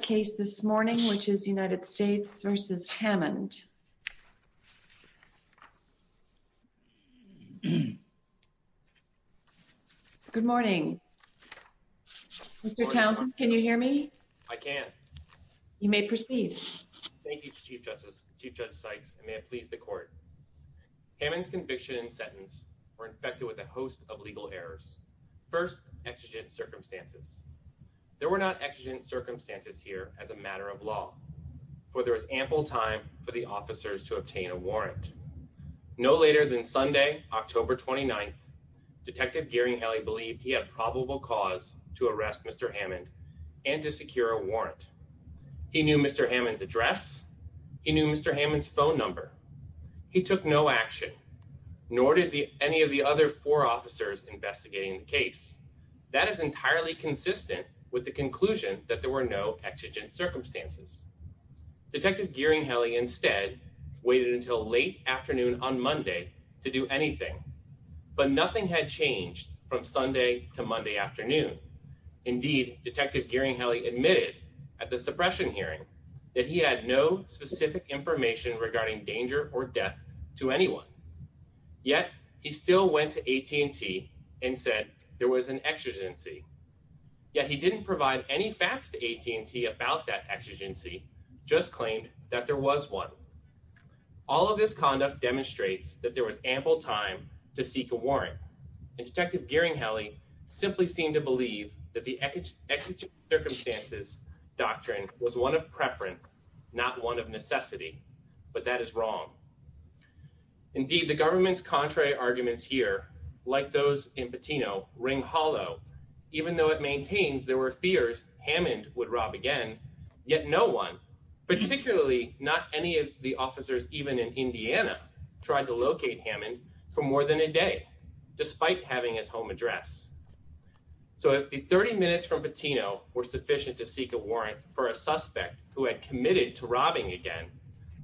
Mr. Townsend, can you hear me? I can. You may proceed. Thank you, Chief Justice, Chief Judge Sykes, and may it please the Court. Hammond's conviction and sentence were infected with a host of legal errors. First, exigent circumstances. There were not exigent circumstances here as a matter of law, for there was ample time for the officers to obtain a warrant. No later than Sunday, October 29th, Detective Gearing Helley believed he had probable cause to arrest Mr. Hammond and to secure a warrant. He knew Mr. Hammond's address. He knew Mr. Hammond's phone number. He took no action, nor did any of the other four officers investigating the case. That is entirely consistent with the conclusion that there were no exigent circumstances. Detective Gearing Helley instead waited until late afternoon on Monday to do anything, but nothing had changed from Sunday to Monday afternoon. Indeed, Detective Gearing Helley admitted at the suppression hearing that he had no specific information regarding danger or death to anyone. Yet, he still went to AT&T and said there was an exigency. Yet, he didn't provide any facts to AT&T about that exigency, just claimed that there was one. All of this conduct demonstrates that there was ample time to seek a warrant, and Detective Gearing Helley simply seemed to believe that the exigent circumstances doctrine was one of preference, not one of necessity, but that is wrong. Indeed, the government's contrary arguments here, like those in Patino, ring hollow. Even though it maintains there were fears Hammond would rob again, yet no one, particularly not any of the officers even in Indiana, tried to locate Hammond for more than a day, despite having his home address. So if the 30 minutes from Patino were sufficient to seek a warrant for a suspect who had committed to robbing again,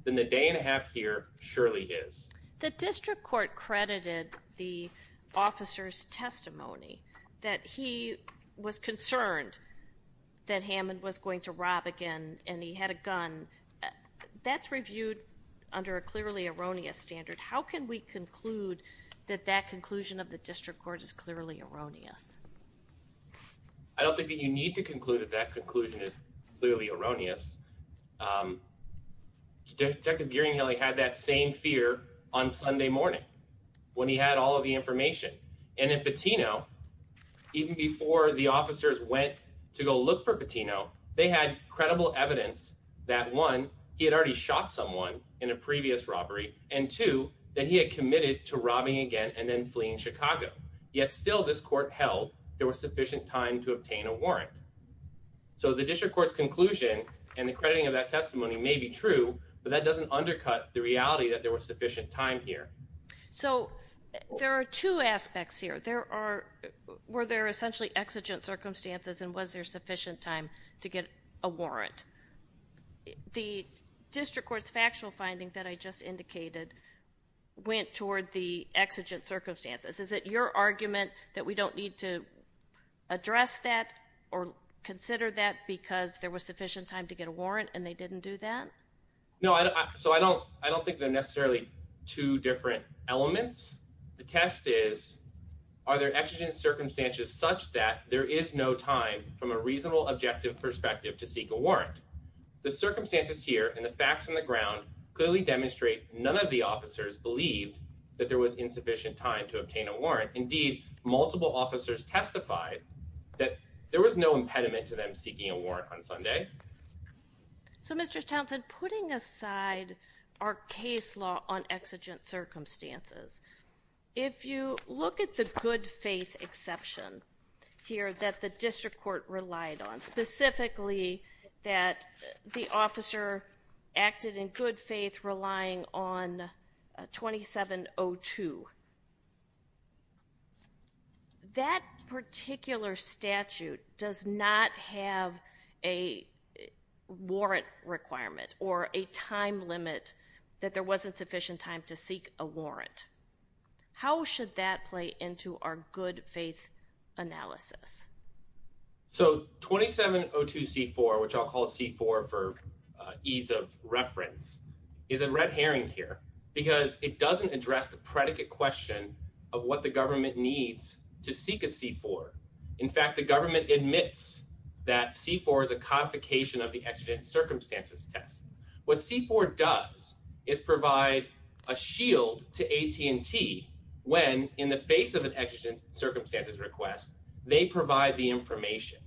then the day and a half here surely is. The district court credited the officer's testimony that he was concerned that Hammond was going to rob again and he had a gun. That's reviewed under a clearly erroneous standard. How can we conclude that that conclusion of the district court is clearly erroneous? I don't think that you need to conclude that that conclusion is clearly erroneous. Detective Gearing Helley had that same fear on Sunday morning when he had all of the information. And in Patino, even before the officers went to go look for Patino, they had credible evidence that one, he had already shot someone in a previous robbery, and two, that he had committed to robbing again and then fleeing Chicago. Yet still this court held there was sufficient time to obtain a warrant. So the district court's conclusion and the crediting of that testimony may be true, but that doesn't undercut the reality that there was sufficient time here. So there are two aspects here. There are, were there essentially exigent circumstances and was there sufficient time to get a warrant? The district court's factual finding that I just indicated went toward the exigent circumstances. Is it your argument that we don't need to address that or consider that because there was sufficient time to get a warrant and they didn't do that? No, so I don't, I don't think they're necessarily two different elements. The test is, are there exigent circumstances such that there is no time from a reasonable objective perspective to seek a warrant? The circumstances here and the facts on the ground clearly demonstrate none of the officers believed that there was insufficient time to obtain a warrant. Indeed, multiple officers testified that there was no impediment to them seeking a warrant on Sunday. So Mr. Townsend, putting aside our case law on exigent circumstances, if you look at the good faith exception here that the district court relied on, specifically that the officer acted in good faith, relying on a 2702, that particular statute does not have a warrant requirement or a time limit that there wasn't sufficient time to seek a warrant. How should that play into our good faith analysis? So 2702 C-4, which I'll call C-4 for ease of reference, is a red herring here because it doesn't address the predicate question of what the government needs to seek a C-4. In fact, the government admits that C-4 is a codification of the exigent circumstances test. What C-4 does is provide a shield to AT&T when, in the face of an exigent circumstances request, they provide the information.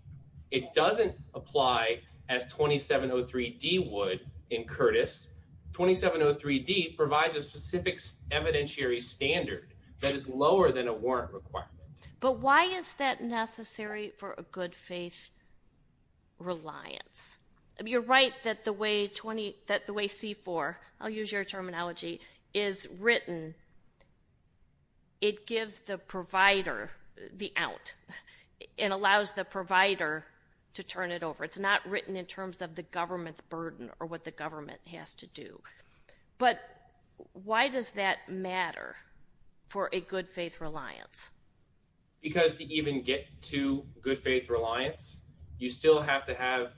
It doesn't apply as 2703 D would in Curtis. 2703 D provides a specific evidentiary standard that is lower than a warrant requirement. But why is that necessary for a good faith reliance? You're right that the way C-4, I'll use your terminology, is written, it gives the provider the out. It allows the provider to turn it over. It's not written in terms of the government's burden or what the government has to do. But why does that matter for a good faith reliance? Because to even get to good faith reliance, you still have to have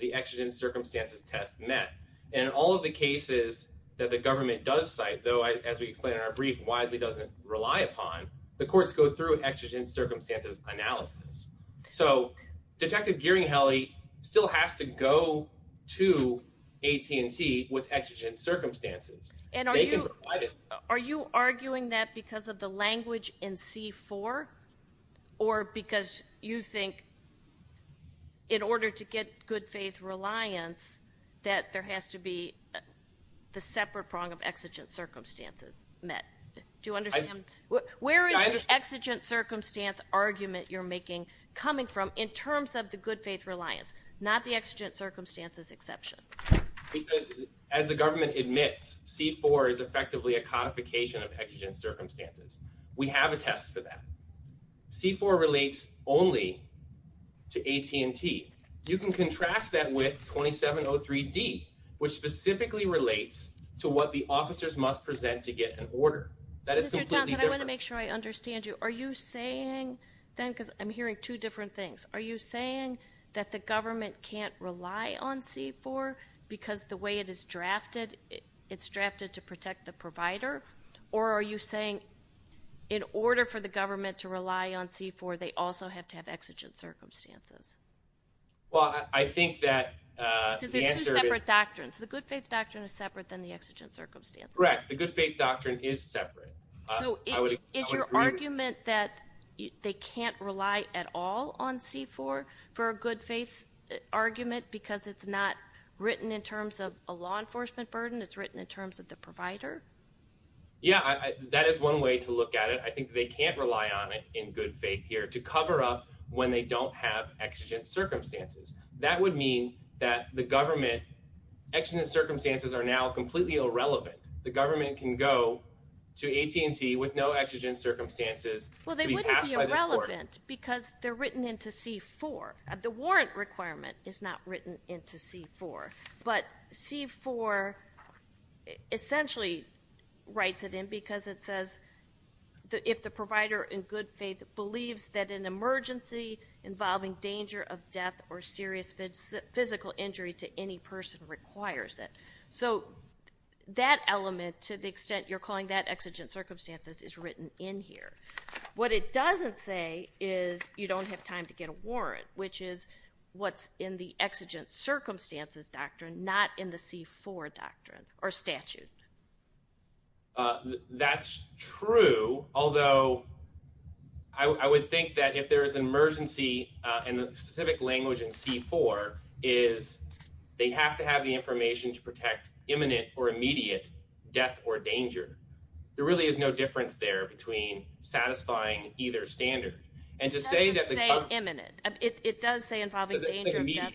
the exigent circumstances test met. And all of the cases that the government does cite, though, as we explained in our brief, wisely doesn't rely upon, the courts go through exigent circumstances analysis. So, Detective Gearing-Helly still has to go to AT&T with exigent circumstances. Are you arguing that because of the language in C-4? Or because you think in order to get good faith reliance that there has to be the separate prong of exigent circumstances met? Do you understand? Where is the exigent circumstance argument you're making coming from in terms of the good faith reliance, not the exigent circumstances exception? Because as the government admits, C-4 is effectively a codification of exigent circumstances. We have a test for that. C-4 relates only to AT&T. You can contrast that with 2703D, which specifically relates to what the officers must present to get an order. So, Mr. Townsend, I want to make sure I understand you. Are you saying then, because I'm hearing two different things, are you saying that the government can't rely on C-4 because the way it is drafted, it's drafted to protect the provider? Or are you saying in order for the government to rely on C-4, they also have to have exigent circumstances? Well, I think that the answer is... Because they're two separate doctrines. The good faith doctrine is separate than the exigent circumstances. Correct. The good faith doctrine is separate. So, is your argument that they can't rely at all on C-4 for a good faith argument because it's not written in terms of a law enforcement burden? It's written in terms of the provider? Yeah, that is one way to look at it. I think they can't rely on it in good faith here to cover up when they don't have exigent circumstances. That would mean that the government... exigent circumstances are now completely irrelevant. The government can go to AT&T with no exigent circumstances to be passed by this court. They're irrelevant because they're written into C-4. The warrant requirement is not written into C-4. But C-4 essentially writes it in because it says, if the provider in good faith believes that an emergency involving danger of death or serious physical injury to any person requires it. So, that element, to the extent you're calling that exigent circumstances, is written in here. What it doesn't say is you don't have time to get a warrant, which is what's in the exigent circumstances doctrine, not in the C-4 doctrine or statute. That's true, although I would think that if there is an emergency and the specific language in C-4 is they have to have the information to protect imminent or immediate death or danger. There really is no difference there between satisfying either standard. It does say imminent. It does say involving danger of death.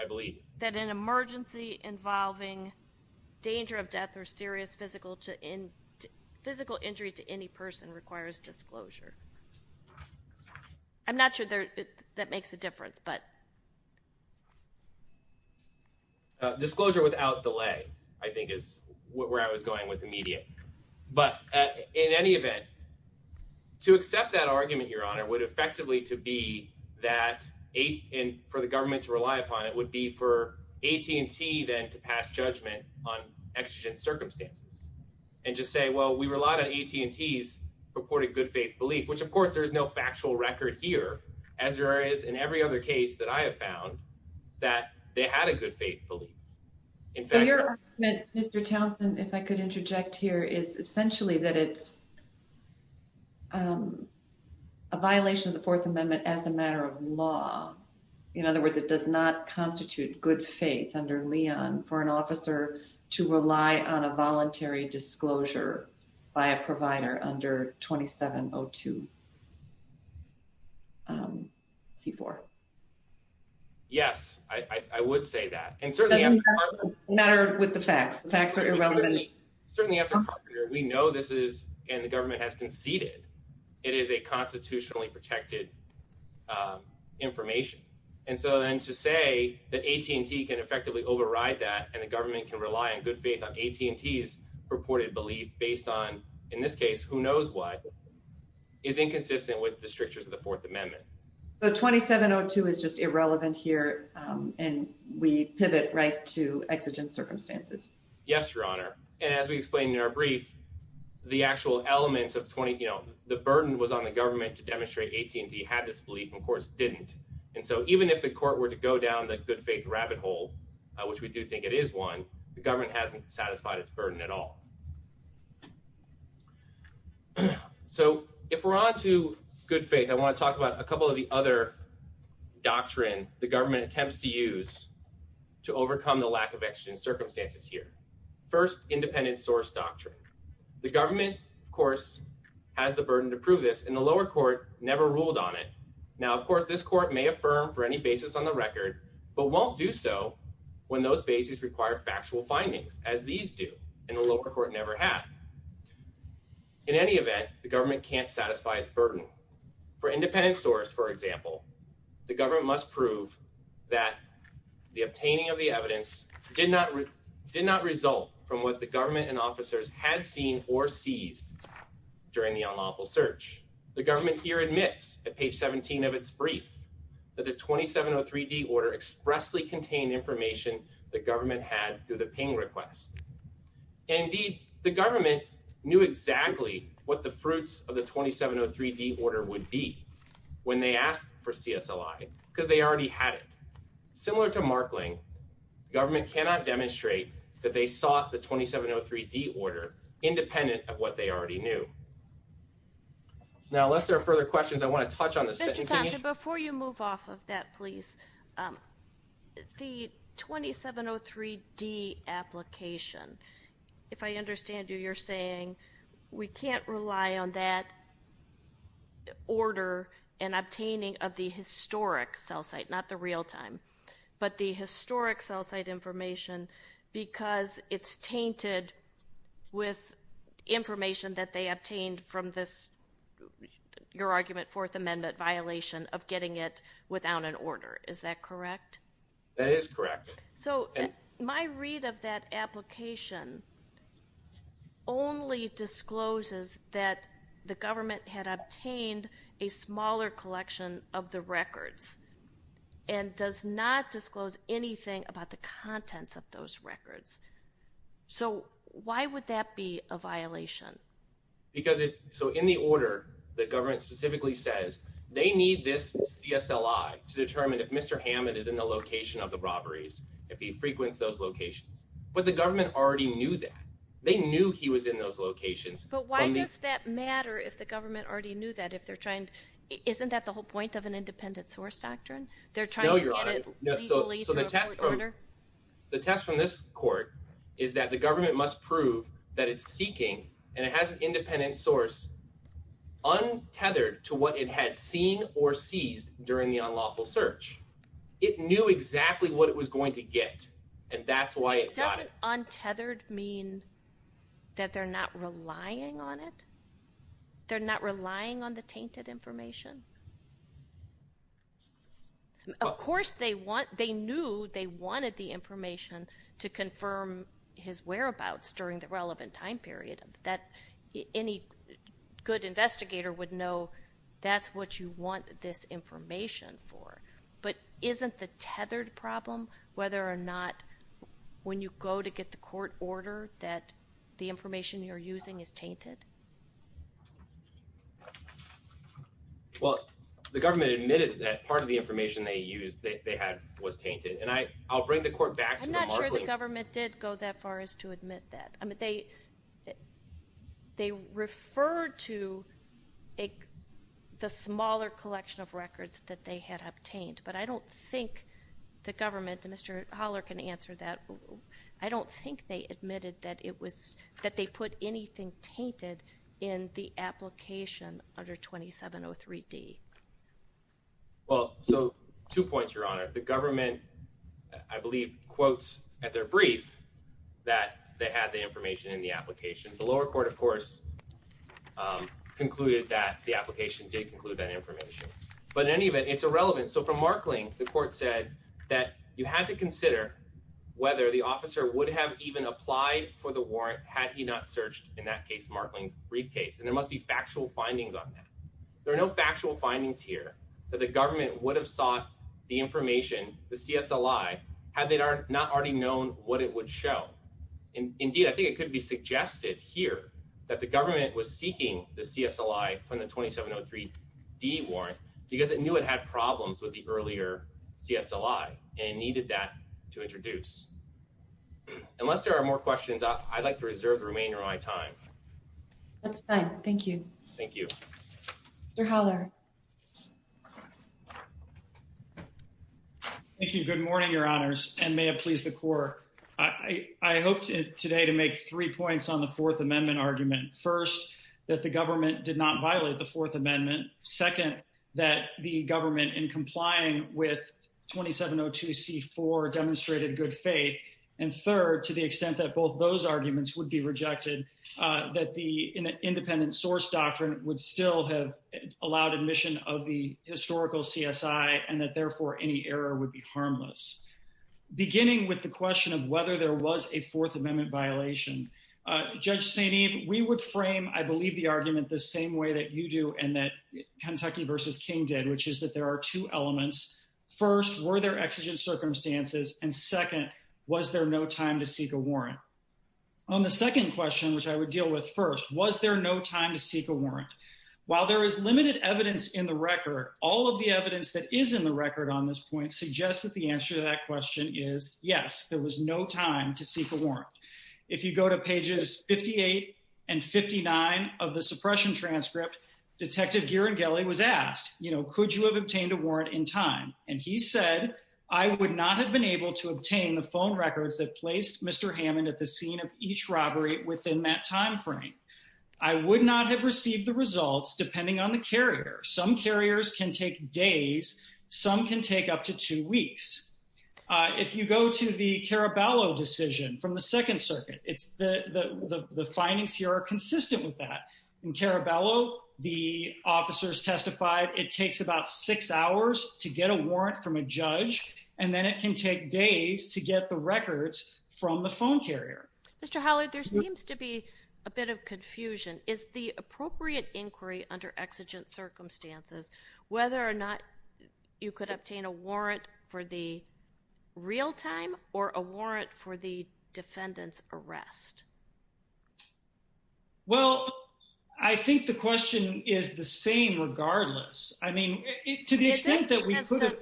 I believe. That an emergency involving danger of death or serious physical injury to any person requires disclosure. I'm not sure that makes a difference, but... Disclosure without delay, I think, is where I was going with immediate. But in any event, to accept that argument, Your Honor, would effectively to be that for the government to rely upon it would be for AT&T then to pass judgment on exigent circumstances and just say, well, we rely on AT&T's purported good faith belief, which of course there is no factual record here as there is in every other case that I have found that they had a good faith belief. Your argument, Mr. Townsend, if I could interject here is essentially that it's a violation of the Fourth Amendment as a matter of law. In other words, it does not constitute good faith under Leon for an officer to rely on a voluntary disclosure by a provider under 2702 C-4. Yes, I would say that. Doesn't matter with the facts. The facts are irrelevant. Certainly, we know this is and the government has conceded it is a constitutionally protected information. And so then to say that AT&T can effectively override that and the government can rely on good faith on AT&T's purported belief based on, in this case, who knows what, is inconsistent with the strictures of the Fourth Amendment. So 2702 is just irrelevant here and we pivot right to exigent circumstances. Yes, Your Honor. And as we explained in our brief, the actual elements of the burden was on the government to demonstrate AT&T had this belief and of course didn't. And so even if the court were to go down the good faith rabbit hole, which we do think it is one, the government hasn't satisfied its burden at all. So if we're on to good faith, I want to talk about a couple of the other doctrine the government attempts to use to overcome the lack of exigent circumstances here. First, independent source doctrine. The government, of course, has the burden to prove this and the lower court never ruled on it. Now, of course, this court may affirm for any basis on the record but won't do so when those bases require factual findings as these do and the lower court never have. In any event, the government can't satisfy its burden. For independent source, for example, the government must prove that the obtaining of the evidence did not result from what the government and officers had seen or seized during the unlawful search. The government here admits at page 17 of its brief that the 2703D order expressly contained information the government had through the ping request. And indeed, the government knew exactly what the fruits of the 2703D order would be when they asked for CSLI because they already had it. Similar to Markling, government cannot demonstrate that they sought the 2703D order independent of what they already knew. Now, unless there are further questions, I want to touch on this. Mr. Thompson, before you move off of that, please, the 2703D application, if I understand you, you're saying we can't rely on that order and obtaining of the historic cell site, not the real-time, but the historic cell site information because it's tainted with information that they obtained from this, your argument, Fourth Amendment violation of getting it without an order. Is that correct? That is correct. So, my read of that application only discloses that the government had obtained a smaller collection of the records and does not disclose anything about the contents of those records. So, why would that be a violation? So, in the order, the government specifically says they need this CSLI to determine if Mr. Hammond is in the location of the robberies, if he frequents those locations. But the government already knew that. They knew he was in those locations. But why does that matter if the government already knew that? Isn't that the whole point of an independent source doctrine? No, Your Honor. So, the test from this court is that the government must prove that it's seeking, and it has an independent source, untethered to what it had seen or seized during the unlawful search. It knew exactly what it was going to get, and that's why it got it. Doesn't untethered mean that they're not relying on it? They're not relying on the tainted information? Of course they knew they wanted the information to confirm his whereabouts during the relevant time period. Any good investigator would know that's what you want this information for. But isn't the tethered problem whether or not when you go to get the court order that the information you're using is tainted? Well, the government admitted that part of the information they used, they had, was tainted. And I'll bring the court back to the Markley. I'm not sure the government did go that far as to admit that. I mean, they referred to the smaller collection of records that they had obtained. But I don't think the government, Mr. Holler can answer that. I don't think they admitted that it was that they put anything tainted in the application under 2703 D. Well, so two points, Your Honor. The government, I believe, quotes at their brief that they had the information in the application. The lower court, of course, concluded that the application did conclude that information. But in any event, it's irrelevant. So from Markling, the court said that you had to consider whether the officer would have even applied for the warrant had he not searched in that case, Markling's briefcase. And there must be factual findings on that. There are no factual findings here that the government would have sought the information, the CSLI, had they not already known what it would show. Indeed, I think it could be suggested here that the government was seeking the CSLI from the 2703 D warrant because it knew it had problems with the earlier CSLI and needed that to introduce. Unless there are more questions, I'd like to reserve the remainder of my time. That's fine. Thank you. Thank you. Mr. Holler. Thank you. Good morning, Your Honors. And may it please the court. I hope today to make three points on the Fourth Amendment argument. First, that the government did not violate the Fourth Amendment. Second, that the government, in complying with 2702 C.4, demonstrated good faith. And third, to the extent that both those arguments would be rejected, that the independent source doctrine would still have allowed admission of the historical CSI and that, therefore, any error would be harmless. Beginning with the question of whether there was a Fourth Amendment violation, Judge St. Eve, we would frame, I believe, the argument the same way that you do and that Kentucky v. King did, which is that there are two elements. First, were there exigent circumstances? And second, was there no time to seek a warrant? On the second question, which I would deal with first, was there no time to seek a warrant? While there is limited evidence in the record, all of the evidence that is in the record on this point suggests that the answer to that question is yes, there was no time to seek a warrant. If you go to pages 58 and 59 of the suppression transcript, Detective Ghirangelli was asked, you know, could you have obtained a warrant in time? And he said, I would not have been able to obtain the phone records that placed Mr. Hammond at the scene of each robbery within that time frame. I would not have received the results depending on the carrier. Some carriers can take days. Some can take up to two weeks. If you go to the Caraballo decision from the Second Circuit, the findings here are consistent with that. In Caraballo, the officers testified it takes about six hours to get a warrant from a judge, and then it can take days to get the records from the phone carrier. Mr. Hollard, there seems to be a bit of confusion. Is the appropriate inquiry under exigent circumstances whether or not you could obtain a warrant for the real-time or a warrant for the defendant's arrest? Well, I think the question is the same regardless. I mean, to the extent that we could have...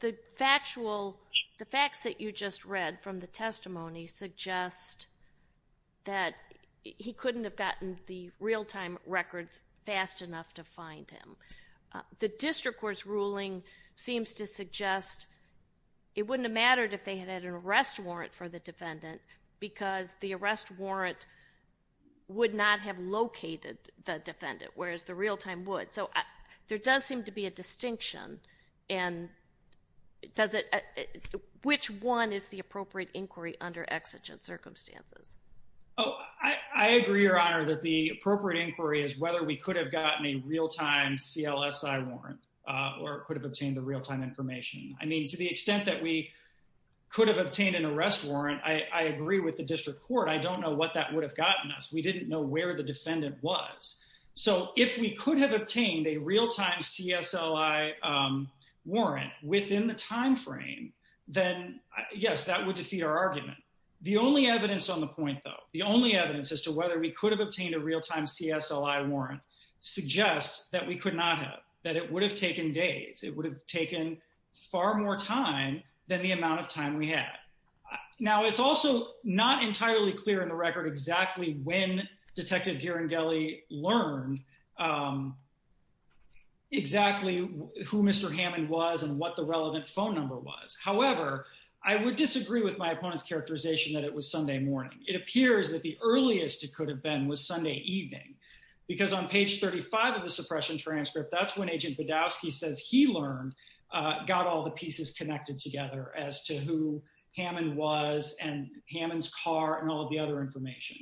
The factual, the facts that you just read from the testimony suggest that he couldn't have gotten the real-time records fast enough to find him. The district court's ruling seems to suggest it wouldn't have mattered if they had had an arrest warrant for the defendant because the arrest warrant would not have located the defendant, whereas the real-time would. So there does seem to be a distinction, and which one is the appropriate inquiry under exigent circumstances? Oh, I agree, Your Honor, that the appropriate inquiry is whether we could have gotten a real-time CLSI warrant or could have obtained the real-time information. I mean, to the extent that we could have obtained an arrest warrant, I agree with the district court. I don't know what that would have gotten us. We didn't know where the defendant was. So if we could have obtained a real-time CSLI warrant within the timeframe, then yes, that would defeat our argument. The only evidence on the point, though, the only evidence as to whether we could have obtained a real-time CSLI warrant suggests that we could not have, that it would have taken days. It would have taken far more time than the amount of time we had. Now, it's also not entirely clear in the record exactly when Detective Ghirangelli learned exactly who Mr. Hammond was and what the relevant phone number was. However, I would disagree with my opponent's characterization that it was Sunday morning. It appears that the earliest it could have been was Sunday evening. Because on page 35 of the suppression transcript, that's when Agent Badowski says he learned, got all the pieces connected together as to who Hammond was and Hammond's car and all the other information.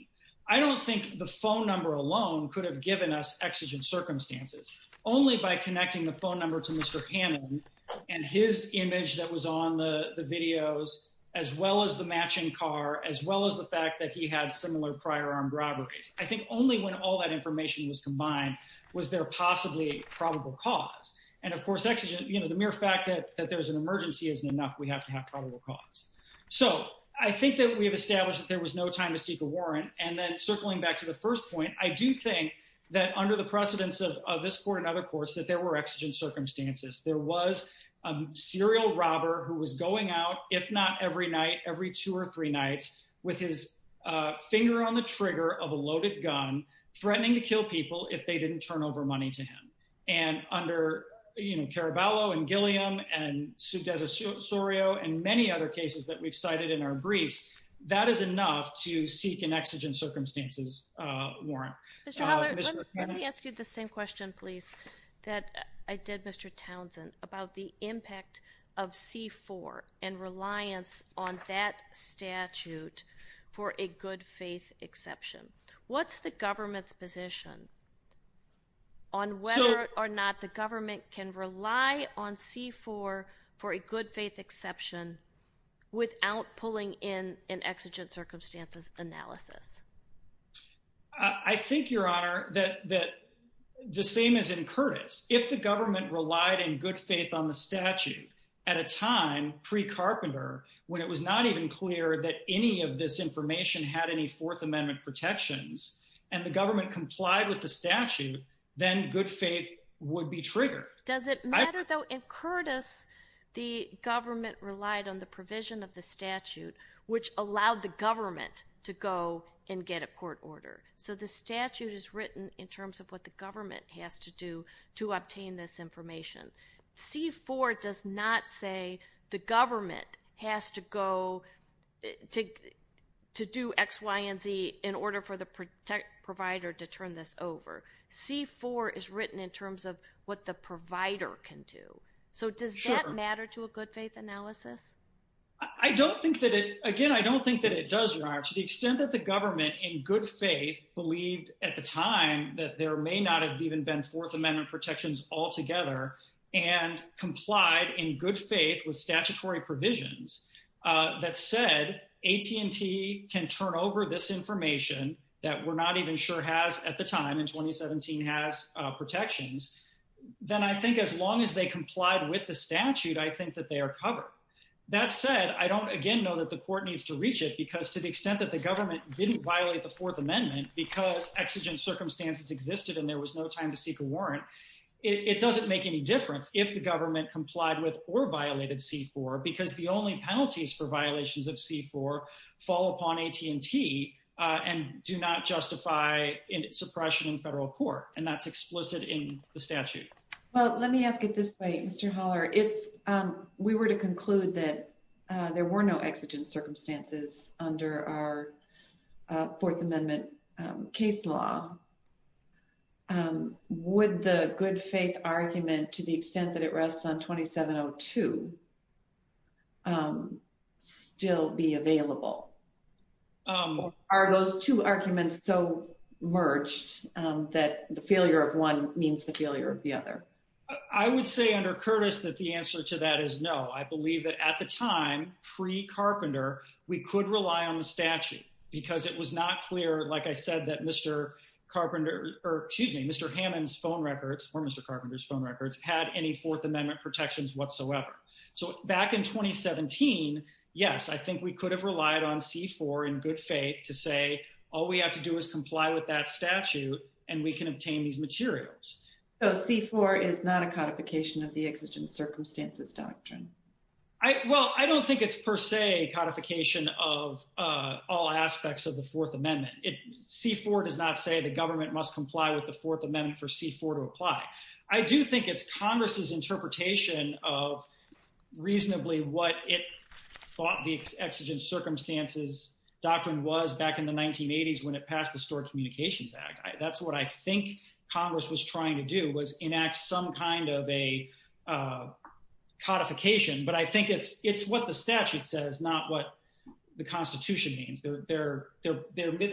I don't think the phone number alone could have given us exigent circumstances. Only by connecting the phone number to Mr. Hammond and his image that was on the videos, as well as the matching car, as well as the fact that he had similar prior armed robberies. I think only when all that information was combined was there possibly probable cause. And, of course, exigent, you know, the mere fact that there's an emergency isn't enough. We have to have probable cause. So, I think that we have established that there was no time to seek a warrant. And then circling back to the first point, I do think that under the precedence of this court and other courts that there were exigent circumstances. There was a serial robber who was going out, if not every night, every two or three nights with his finger on the trigger of a loaded gun, threatening to kill people if they didn't turn over money to him. And under, you know, Caraballo and Gilliam and Sudez Osorio and many other cases that we've cited in our briefs, that is enough to seek an exigent circumstances warrant. Mr. Holler, let me ask you the same question, please, that I did, Mr. Townsend, about the impact of C-4 and reliance on that statute for a good faith exception. What's the government's position on whether or not the government can rely on C-4 for a good faith exception without pulling in an exigent circumstances analysis? I think, Your Honor, that the same as in Curtis, if the government relied in good faith on the statute at a time pre-Carpenter, when it was not even clear that any of this information had any Fourth Amendment protections, and the government complied with the statute, then good faith would be triggered. Does it matter, though, in Curtis, the government relied on the provision of the statute, which allowed the government to go and get a court order? So the statute is written in terms of what the government has to do to obtain this information. C-4 does not say the government has to go to do X, Y, and Z in order for the provider to turn this over. C-4 is written in terms of what the provider can do. So does that matter to a good faith analysis? I don't think that it—again, I don't think that it does, Your Honor. To the extent that the government in good faith believed at the time that there may not have even been Fourth Amendment protections altogether, and complied in good faith with statutory provisions that said AT&T can turn over this information that we're not even sure has at the time, in 2017, has protections, then I think as long as they complied with the statute, I think that they are covered. That said, I don't, again, know that the court needs to reach it because to the extent that the government didn't violate the Fourth Amendment because exigent circumstances existed and there was no time to seek a warrant, it doesn't make any difference if the government complied with or violated C-4 because the only penalties for violations of C-4 fall upon AT&T and do not justify suppression in federal court, and that's explicit in the statute. Well, let me ask it this way, Mr. Haller. I would say under Curtis that the answer to that is no. I believe that at the time, pre-Carpenter, we could rely on the statute because it was not clear, like I said, that Mr. Carpenter—or, excuse me, Mr. Hammond's phone records or Mr. Carpenter's phone records had any Fourth Amendment protections whatsoever. So back in 2017, yes, I think we could have relied on C-4 in good faith to say all we have to do is comply with that statute and we can obtain these materials. So C-4 is not a codification of the exigent circumstances doctrine? Well, I don't think it's per se a codification of all aspects of the Fourth Amendment. C-4 does not say the government must comply with the Fourth Amendment for C-4 to apply. I do think it's Congress's interpretation of reasonably what it thought the exigent circumstances doctrine was back in the 1980s when it passed the Store Communications Act. That's what I think Congress was trying to do was enact some kind of a codification, but I think it's what the statute says, not what the Constitution means. They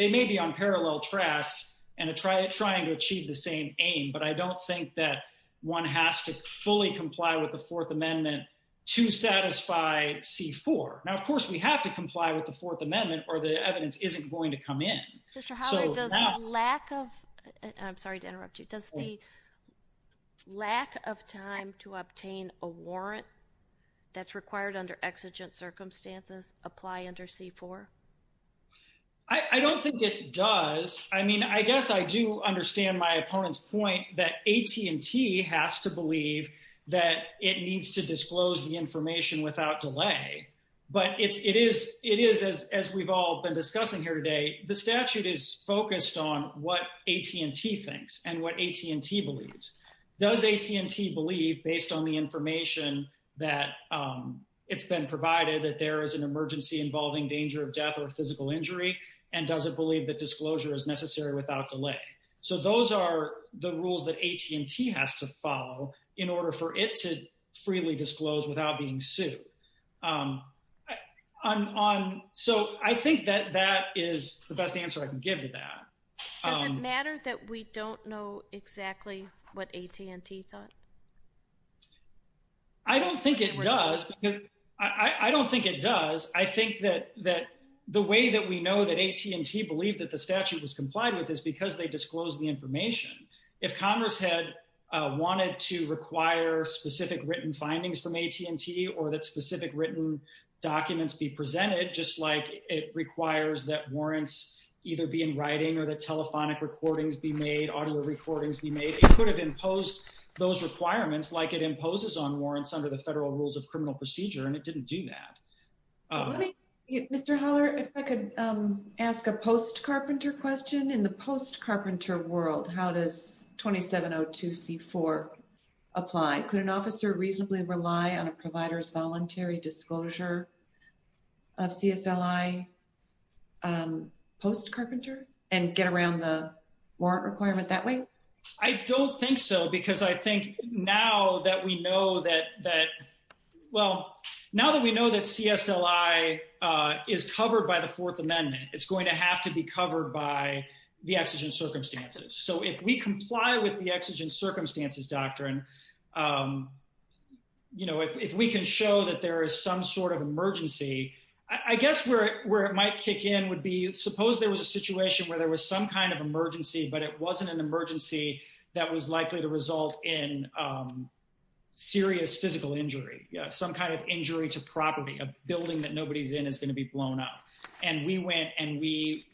may be on parallel tracks and trying to achieve the same aim, but I don't think that one has to fully comply with the Fourth Amendment to satisfy C-4. Now, of course, we have to comply with the Fourth Amendment or the evidence isn't going to come in. Does the lack of time to obtain a warrant that's required under exigent circumstances apply under C-4? I don't think it does. I mean, I guess I do understand my opponent's point that AT&T has to believe that it needs to disclose the information without delay. But it is, as we've all been discussing here today, the statute is focused on what AT&T thinks and what AT&T believes. Does AT&T believe, based on the information that it's been provided, that there is an emergency involving danger of death or physical injury, and does it believe that disclosure is necessary without delay? So those are the rules that AT&T has to follow in order for it to freely disclose without being sued. So I think that that is the best answer I can give to that. Does it matter that we don't know exactly what AT&T thought? I don't think it does. I don't think it does. I think that the way that we know that AT&T believed that the statute was complied with is because they disclosed the information. If Congress had wanted to require specific written findings from AT&T or that specific written documents be presented, just like it requires that warrants either be in writing or that telephonic recordings be made, audio recordings be made, it could have imposed those requirements like it imposes on warrants under the Federal Rules of Criminal Procedure, and it didn't do that. Mr. Holler, if I could ask a post-Carpenter question. In the post-Carpenter world, how does 2702C4 apply? Could an officer reasonably rely on a provider's voluntary disclosure of CSLI post-Carpenter and get around the warrant requirement that way? I don't think so, because I think now that we know that CSLI is covered by the Fourth Amendment, it's going to have to be covered by the Exigent Circumstances. So if we comply with the Exigent Circumstances doctrine, if we can show that there is some sort of emergency, I guess where it might kick in would be suppose there was a situation where there was some kind of emergency, but it wasn't an emergency that was likely to result in serious physical injury, some kind of injury to property. A building that nobody's in is going to be blown up. And we went and we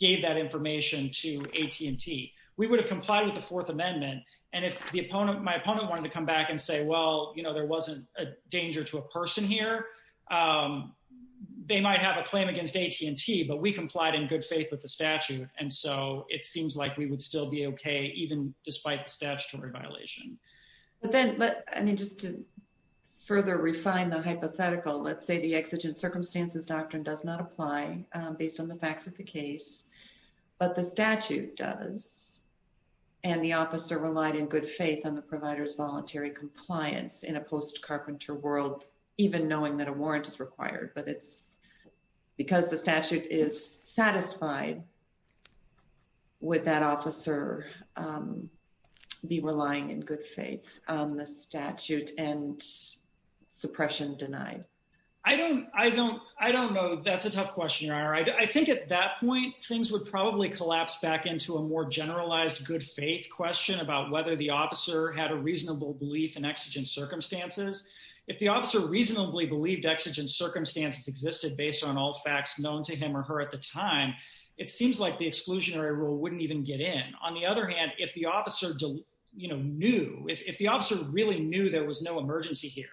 gave that information to AT&T. We would have complied with the Fourth Amendment. And if my opponent wanted to come back and say, well, you know, there wasn't a danger to a person here, they might have a claim against AT&T, but we complied in good faith with the statute. And so it seems like we would still be OK, even despite the statutory violation. But then just to further refine the hypothetical, let's say the Exigent Circumstances doctrine does not apply based on the facts of the case, but the statute does and the officer relied in good faith on the provider's voluntary compliance in a post-carpenter world, even knowing that a warrant is required, but it's because the statute is satisfied. Would that officer be relying in good faith on the statute and suppression denied? I don't know. That's a tough question. I think at that point, things would probably collapse back into a more generalized good faith question about whether the officer had a reasonable belief in Exigent Circumstances. If the officer reasonably believed Exigent Circumstances existed based on all facts known to him or her at the time, it seems like the exclusionary rule wouldn't even get in. On the other hand, if the officer knew, if the officer really knew there was no emergency here,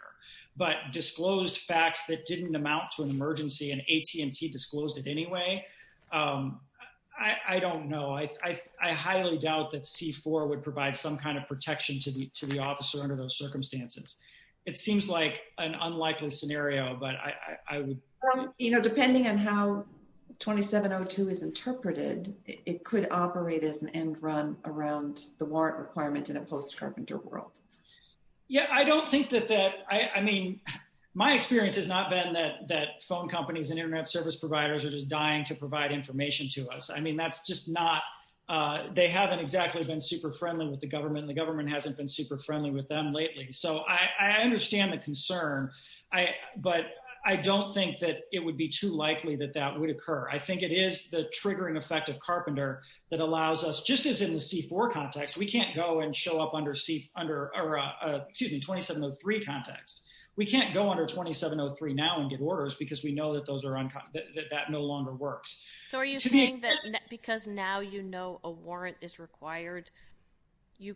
but disclosed facts that didn't amount to an emergency and AT&T disclosed it anyway, I don't know. I highly doubt that C-4 would provide some kind of protection to the officer under those circumstances. It seems like an unlikely scenario, but I would. You know, depending on how 2702 is interpreted, it could operate as an end run around the warrant requirement in a post-carpenter world. Yeah, I don't think that that I mean, my experience has not been that phone companies and Internet service providers are just dying to provide information to us. I mean, that's just not they haven't exactly been super friendly with the government. And the government hasn't been super friendly with them lately. So I understand the concern. But I don't think that it would be too likely that that would occur. I think it is the triggering effect of carpenter that allows us just as in the C-4 context. We can't go and show up under C under or excuse me, 2703 context. We can't go under 2703 now and get orders because we know that those are that that no longer works. So are you saying that because now, you know, a warrant is required, you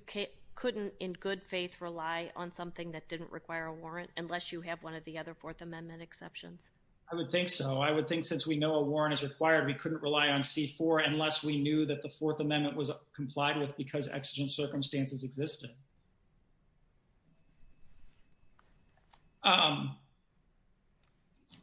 couldn't in good faith rely on something that didn't require a warrant unless you have one of the other Fourth Amendment exceptions? I would think so. I would think since we know a warrant is required, we couldn't rely on C-4 unless we knew that the Fourth Amendment was complied with because exigent circumstances existed.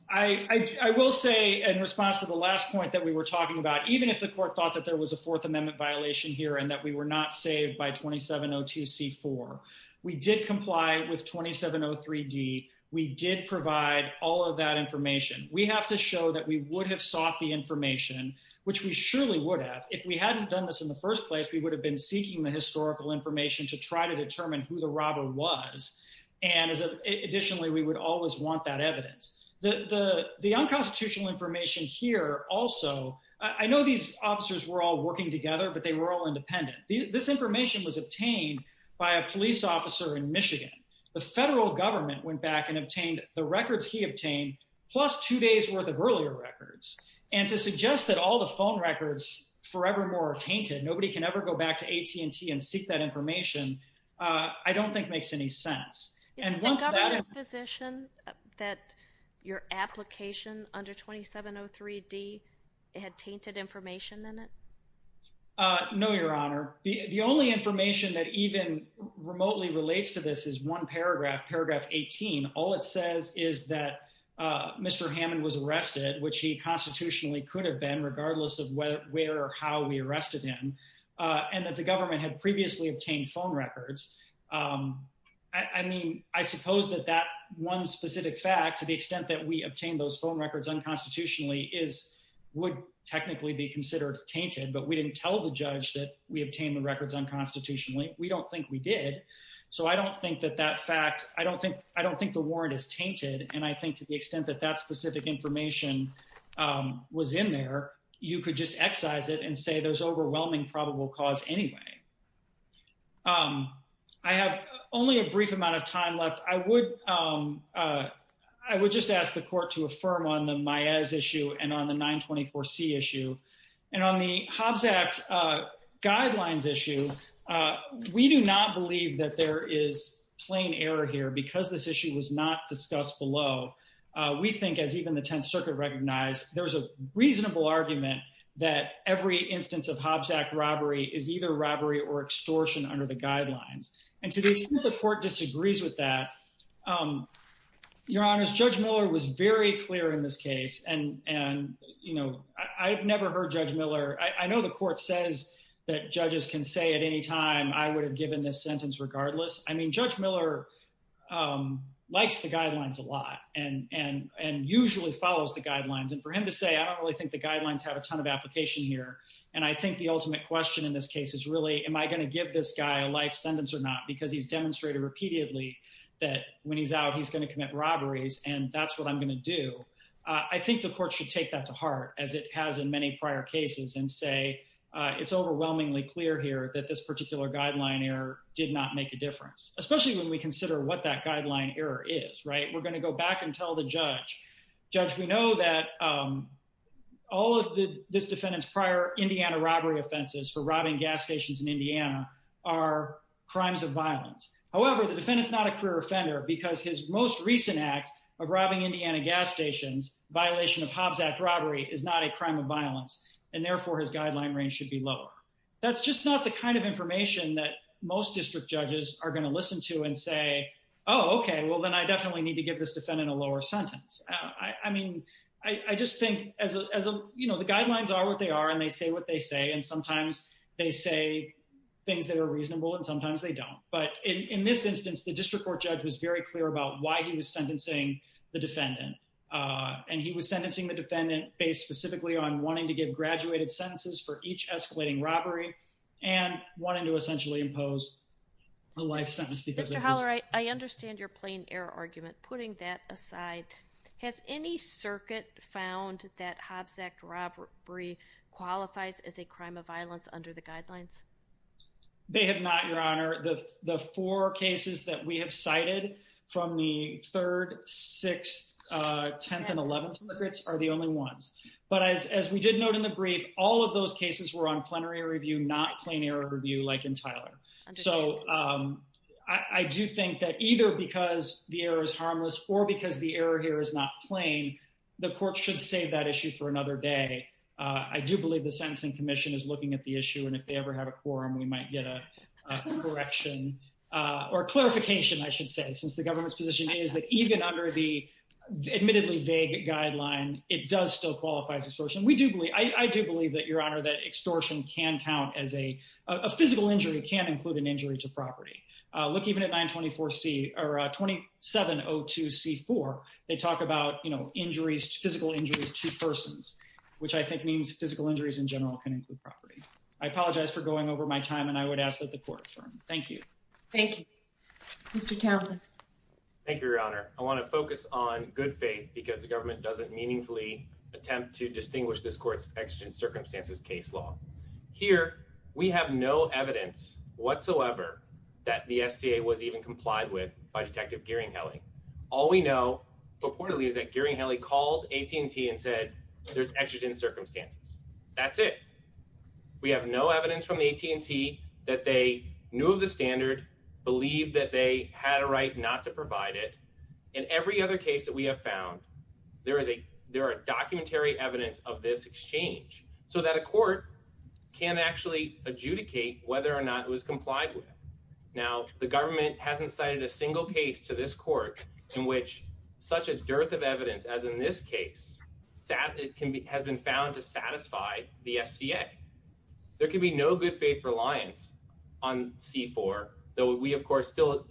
I will say in response to the last point that we were talking about, even if the court thought that there was a Fourth Amendment violation here and that we were not saved by 2702 C-4, we did comply with 2703 D. We did provide all of that information. We have to show that we would have sought the information, which we surely would have. If we hadn't done this in the first place, we would have been seeking the historical information to try to determine who the robber was. And additionally, we would always want that evidence. The unconstitutional information here also, I know these officers were all working together, but they were all independent. This information was obtained by a police officer in Michigan. The federal government went back and obtained the records he obtained, plus two days worth of earlier records. And to suggest that all the phone records forevermore are tainted, nobody can ever go back to AT&T and seek that information, I don't think makes any sense. Is it the government's position that your application under 2703 D had tainted information in it? No, Your Honor. The only information that even remotely relates to this is one paragraph, paragraph 18. All it says is that Mr. Hammond was arrested, which he constitutionally could have been, regardless of where or how we arrested him, and that the government had previously obtained phone records. I mean, I suppose that that one specific fact, to the extent that we obtained those phone records unconstitutionally, would technically be considered tainted. But we didn't tell the judge that we obtained the records unconstitutionally. We don't think we did. So I don't think that that fact, I don't think the warrant is tainted. And I think to the extent that that specific information was in there, you could just excise it and say there's overwhelming probable cause anyway. I have only a brief amount of time left. I would just ask the court to affirm on the Maez issue and on the 924C issue. And on the Hobbs Act guidelines issue, we do not believe that there is plain error here because this issue was not discussed below. We think, as even the Tenth Circuit recognized, there's a reasonable argument that every instance of Hobbs Act robbery is either robbery or extortion under the guidelines. And to the extent the court disagrees with that, Your Honor, Judge Miller was very clear in this case. And, you know, I've never heard Judge Miller. I know the court says that judges can say at any time, I would have given this sentence regardless. I mean, Judge Miller likes the guidelines a lot and usually follows the guidelines. And for him to say, I don't really think the guidelines have a ton of application here. And I think the ultimate question in this case is really, am I going to give this guy a life sentence or not? Because he's demonstrated repeatedly that when he's out, he's going to commit robberies. And that's what I'm going to do. I think the court should take that to heart, as it has in many prior cases and say it's overwhelmingly clear here that this particular guideline error did not make a difference, especially when we consider what that guideline error is. Right. We're going to go back and tell the judge. Judge, we know that all of this defendant's prior Indiana robbery offenses for robbing gas stations in Indiana are crimes of violence. However, the defendant's not a career offender because his most recent act of robbing Indiana gas stations, violation of Hobbs Act robbery, is not a crime of violence and therefore his guideline range should be lower. That's just not the kind of information that most district judges are going to listen to and say, oh, okay, well, then I definitely need to give this defendant a lower sentence. I mean, I just think as a, you know, the guidelines are what they are and they say what they say and sometimes they say things that are reasonable and sometimes they don't. But in this instance, the district court judge was very clear about why he was sentencing the defendant. And he was sentencing the defendant based specifically on wanting to give graduated sentences for each escalating robbery and wanting to essentially impose a life sentence. Mr. Holler, I understand your plain error argument. Putting that aside, has any circuit found that Hobbs Act robbery qualifies as a crime of violence under the guidelines? They have not, Your Honor. The four cases that we have cited from the 3rd, 6th, 10th, and 11th deliberates are the only ones. But as we did note in the brief, all of those cases were on plenary review, not plain error review like in Tyler. So I do think that either because the error is harmless or because the error here is not plain, the court should save that issue for another day. I do believe the Sentencing Commission is looking at the issue and if they ever have a quorum, we might get a correction or clarification, I should say, since the government's position is that even under the admittedly vague guideline, it does still qualify as extortion. I apologize for going over my time, and I would ask that the court adjourn. Thank you. Thank you, Mr. Townsend. Thank you, Your Honor. I want to focus on good faith because the government doesn't meaningfully attempt to distinguish this court's extra circumstances case law. Here, we have no evidence whatsoever that the SCA was even complied with by Detective Gearing-Helly. All we know purportedly is that Gearing-Helly called AT&T and said there's extra circumstances. That's it. We have no evidence from AT&T that they knew of the standard, believed that they had a right not to provide it. In every other case that we have found, there are documentary evidence of this exchange so that a court can actually adjudicate whether or not it was complied with. Now, the government hasn't cited a single case to this court in which such a dearth of evidence as in this case has been found to satisfy the SCA. There can be no good faith reliance on C-4, though we, of course, still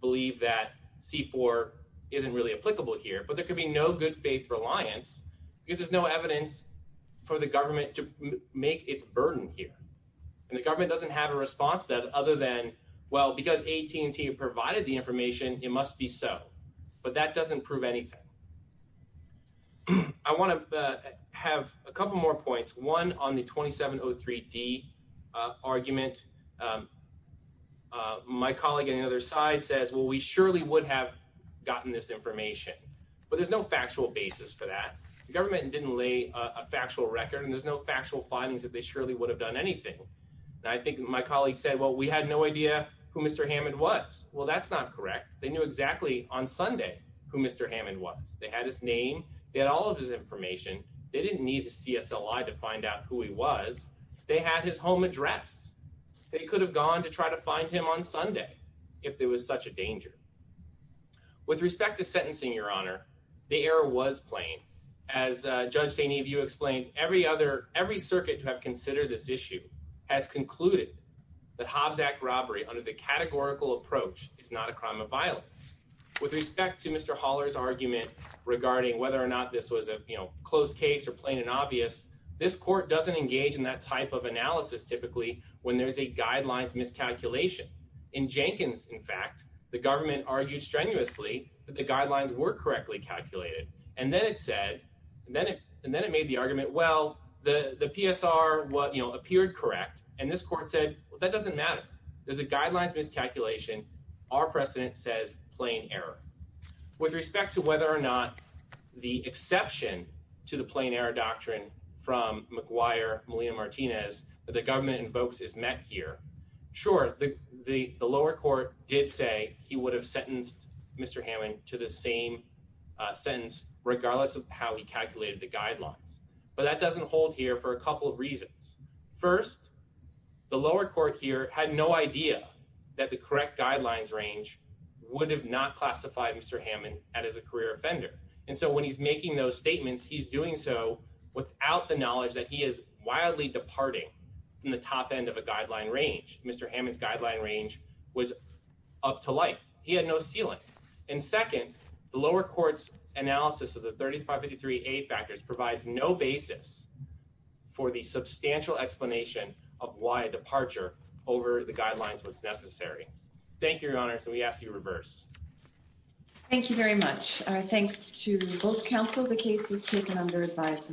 believe that C-4 isn't really applicable here. But there can be no good faith reliance because there's no evidence for the government to make its burden here. And the government doesn't have a response to that other than, well, because AT&T provided the information, it must be so. But that doesn't prove anything. I want to have a couple more points. One, on the 2703D argument, my colleague on the other side says, well, we surely would have gotten this information. But there's no factual basis for that. The government didn't lay a factual record and there's no factual findings that they surely would have done anything. And I think my colleague said, well, we had no idea who Mr. Hammond was. Well, that's not correct. They knew exactly on Sunday who Mr. Hammond was. They had his name. They had all of his information. They didn't need a CSLI to find out who he was. They had his home address. They could have gone to try to find him on Sunday if there was such a danger. With respect to sentencing, Your Honor, the error was plain. As Judge St-Yves explained, every circuit who have considered this issue has concluded that Hobbs Act robbery under the categorical approach is not a crime of violence. With respect to Mr. Haller's argument regarding whether or not this was a closed case or plain and obvious, this court doesn't engage in that type of analysis typically when there's a guidelines miscalculation. In Jenkins, in fact, the government argued strenuously that the guidelines were correctly calculated. And then it said, and then it made the argument, well, the PSR appeared correct. And this court said, well, that doesn't matter. There's a guidelines miscalculation. Our precedent says plain error. With respect to whether or not the exception to the plain error doctrine from McGuire-Molina-Martinez that the government invokes is met here. Sure, the lower court did say he would have sentenced Mr. Hammond to the same sentence regardless of how he calculated the guidelines. But that doesn't hold here for a couple of reasons. First, the lower court here had no idea that the correct guidelines range would have not classified Mr. Hammond as a career offender. And so when he's making those statements, he's doing so without the knowledge that he is wildly departing from the top end of a guideline range. Mr. Hammond's guideline range was up to life. He had no ceiling. And second, the lower court's analysis of the 3553A factors provides no basis for the substantial explanation of why a departure over the guidelines was necessary. Thank you, Your Honor. So we ask you to reverse. Thank you very much. Thanks to both counsel. The case is taken under advice.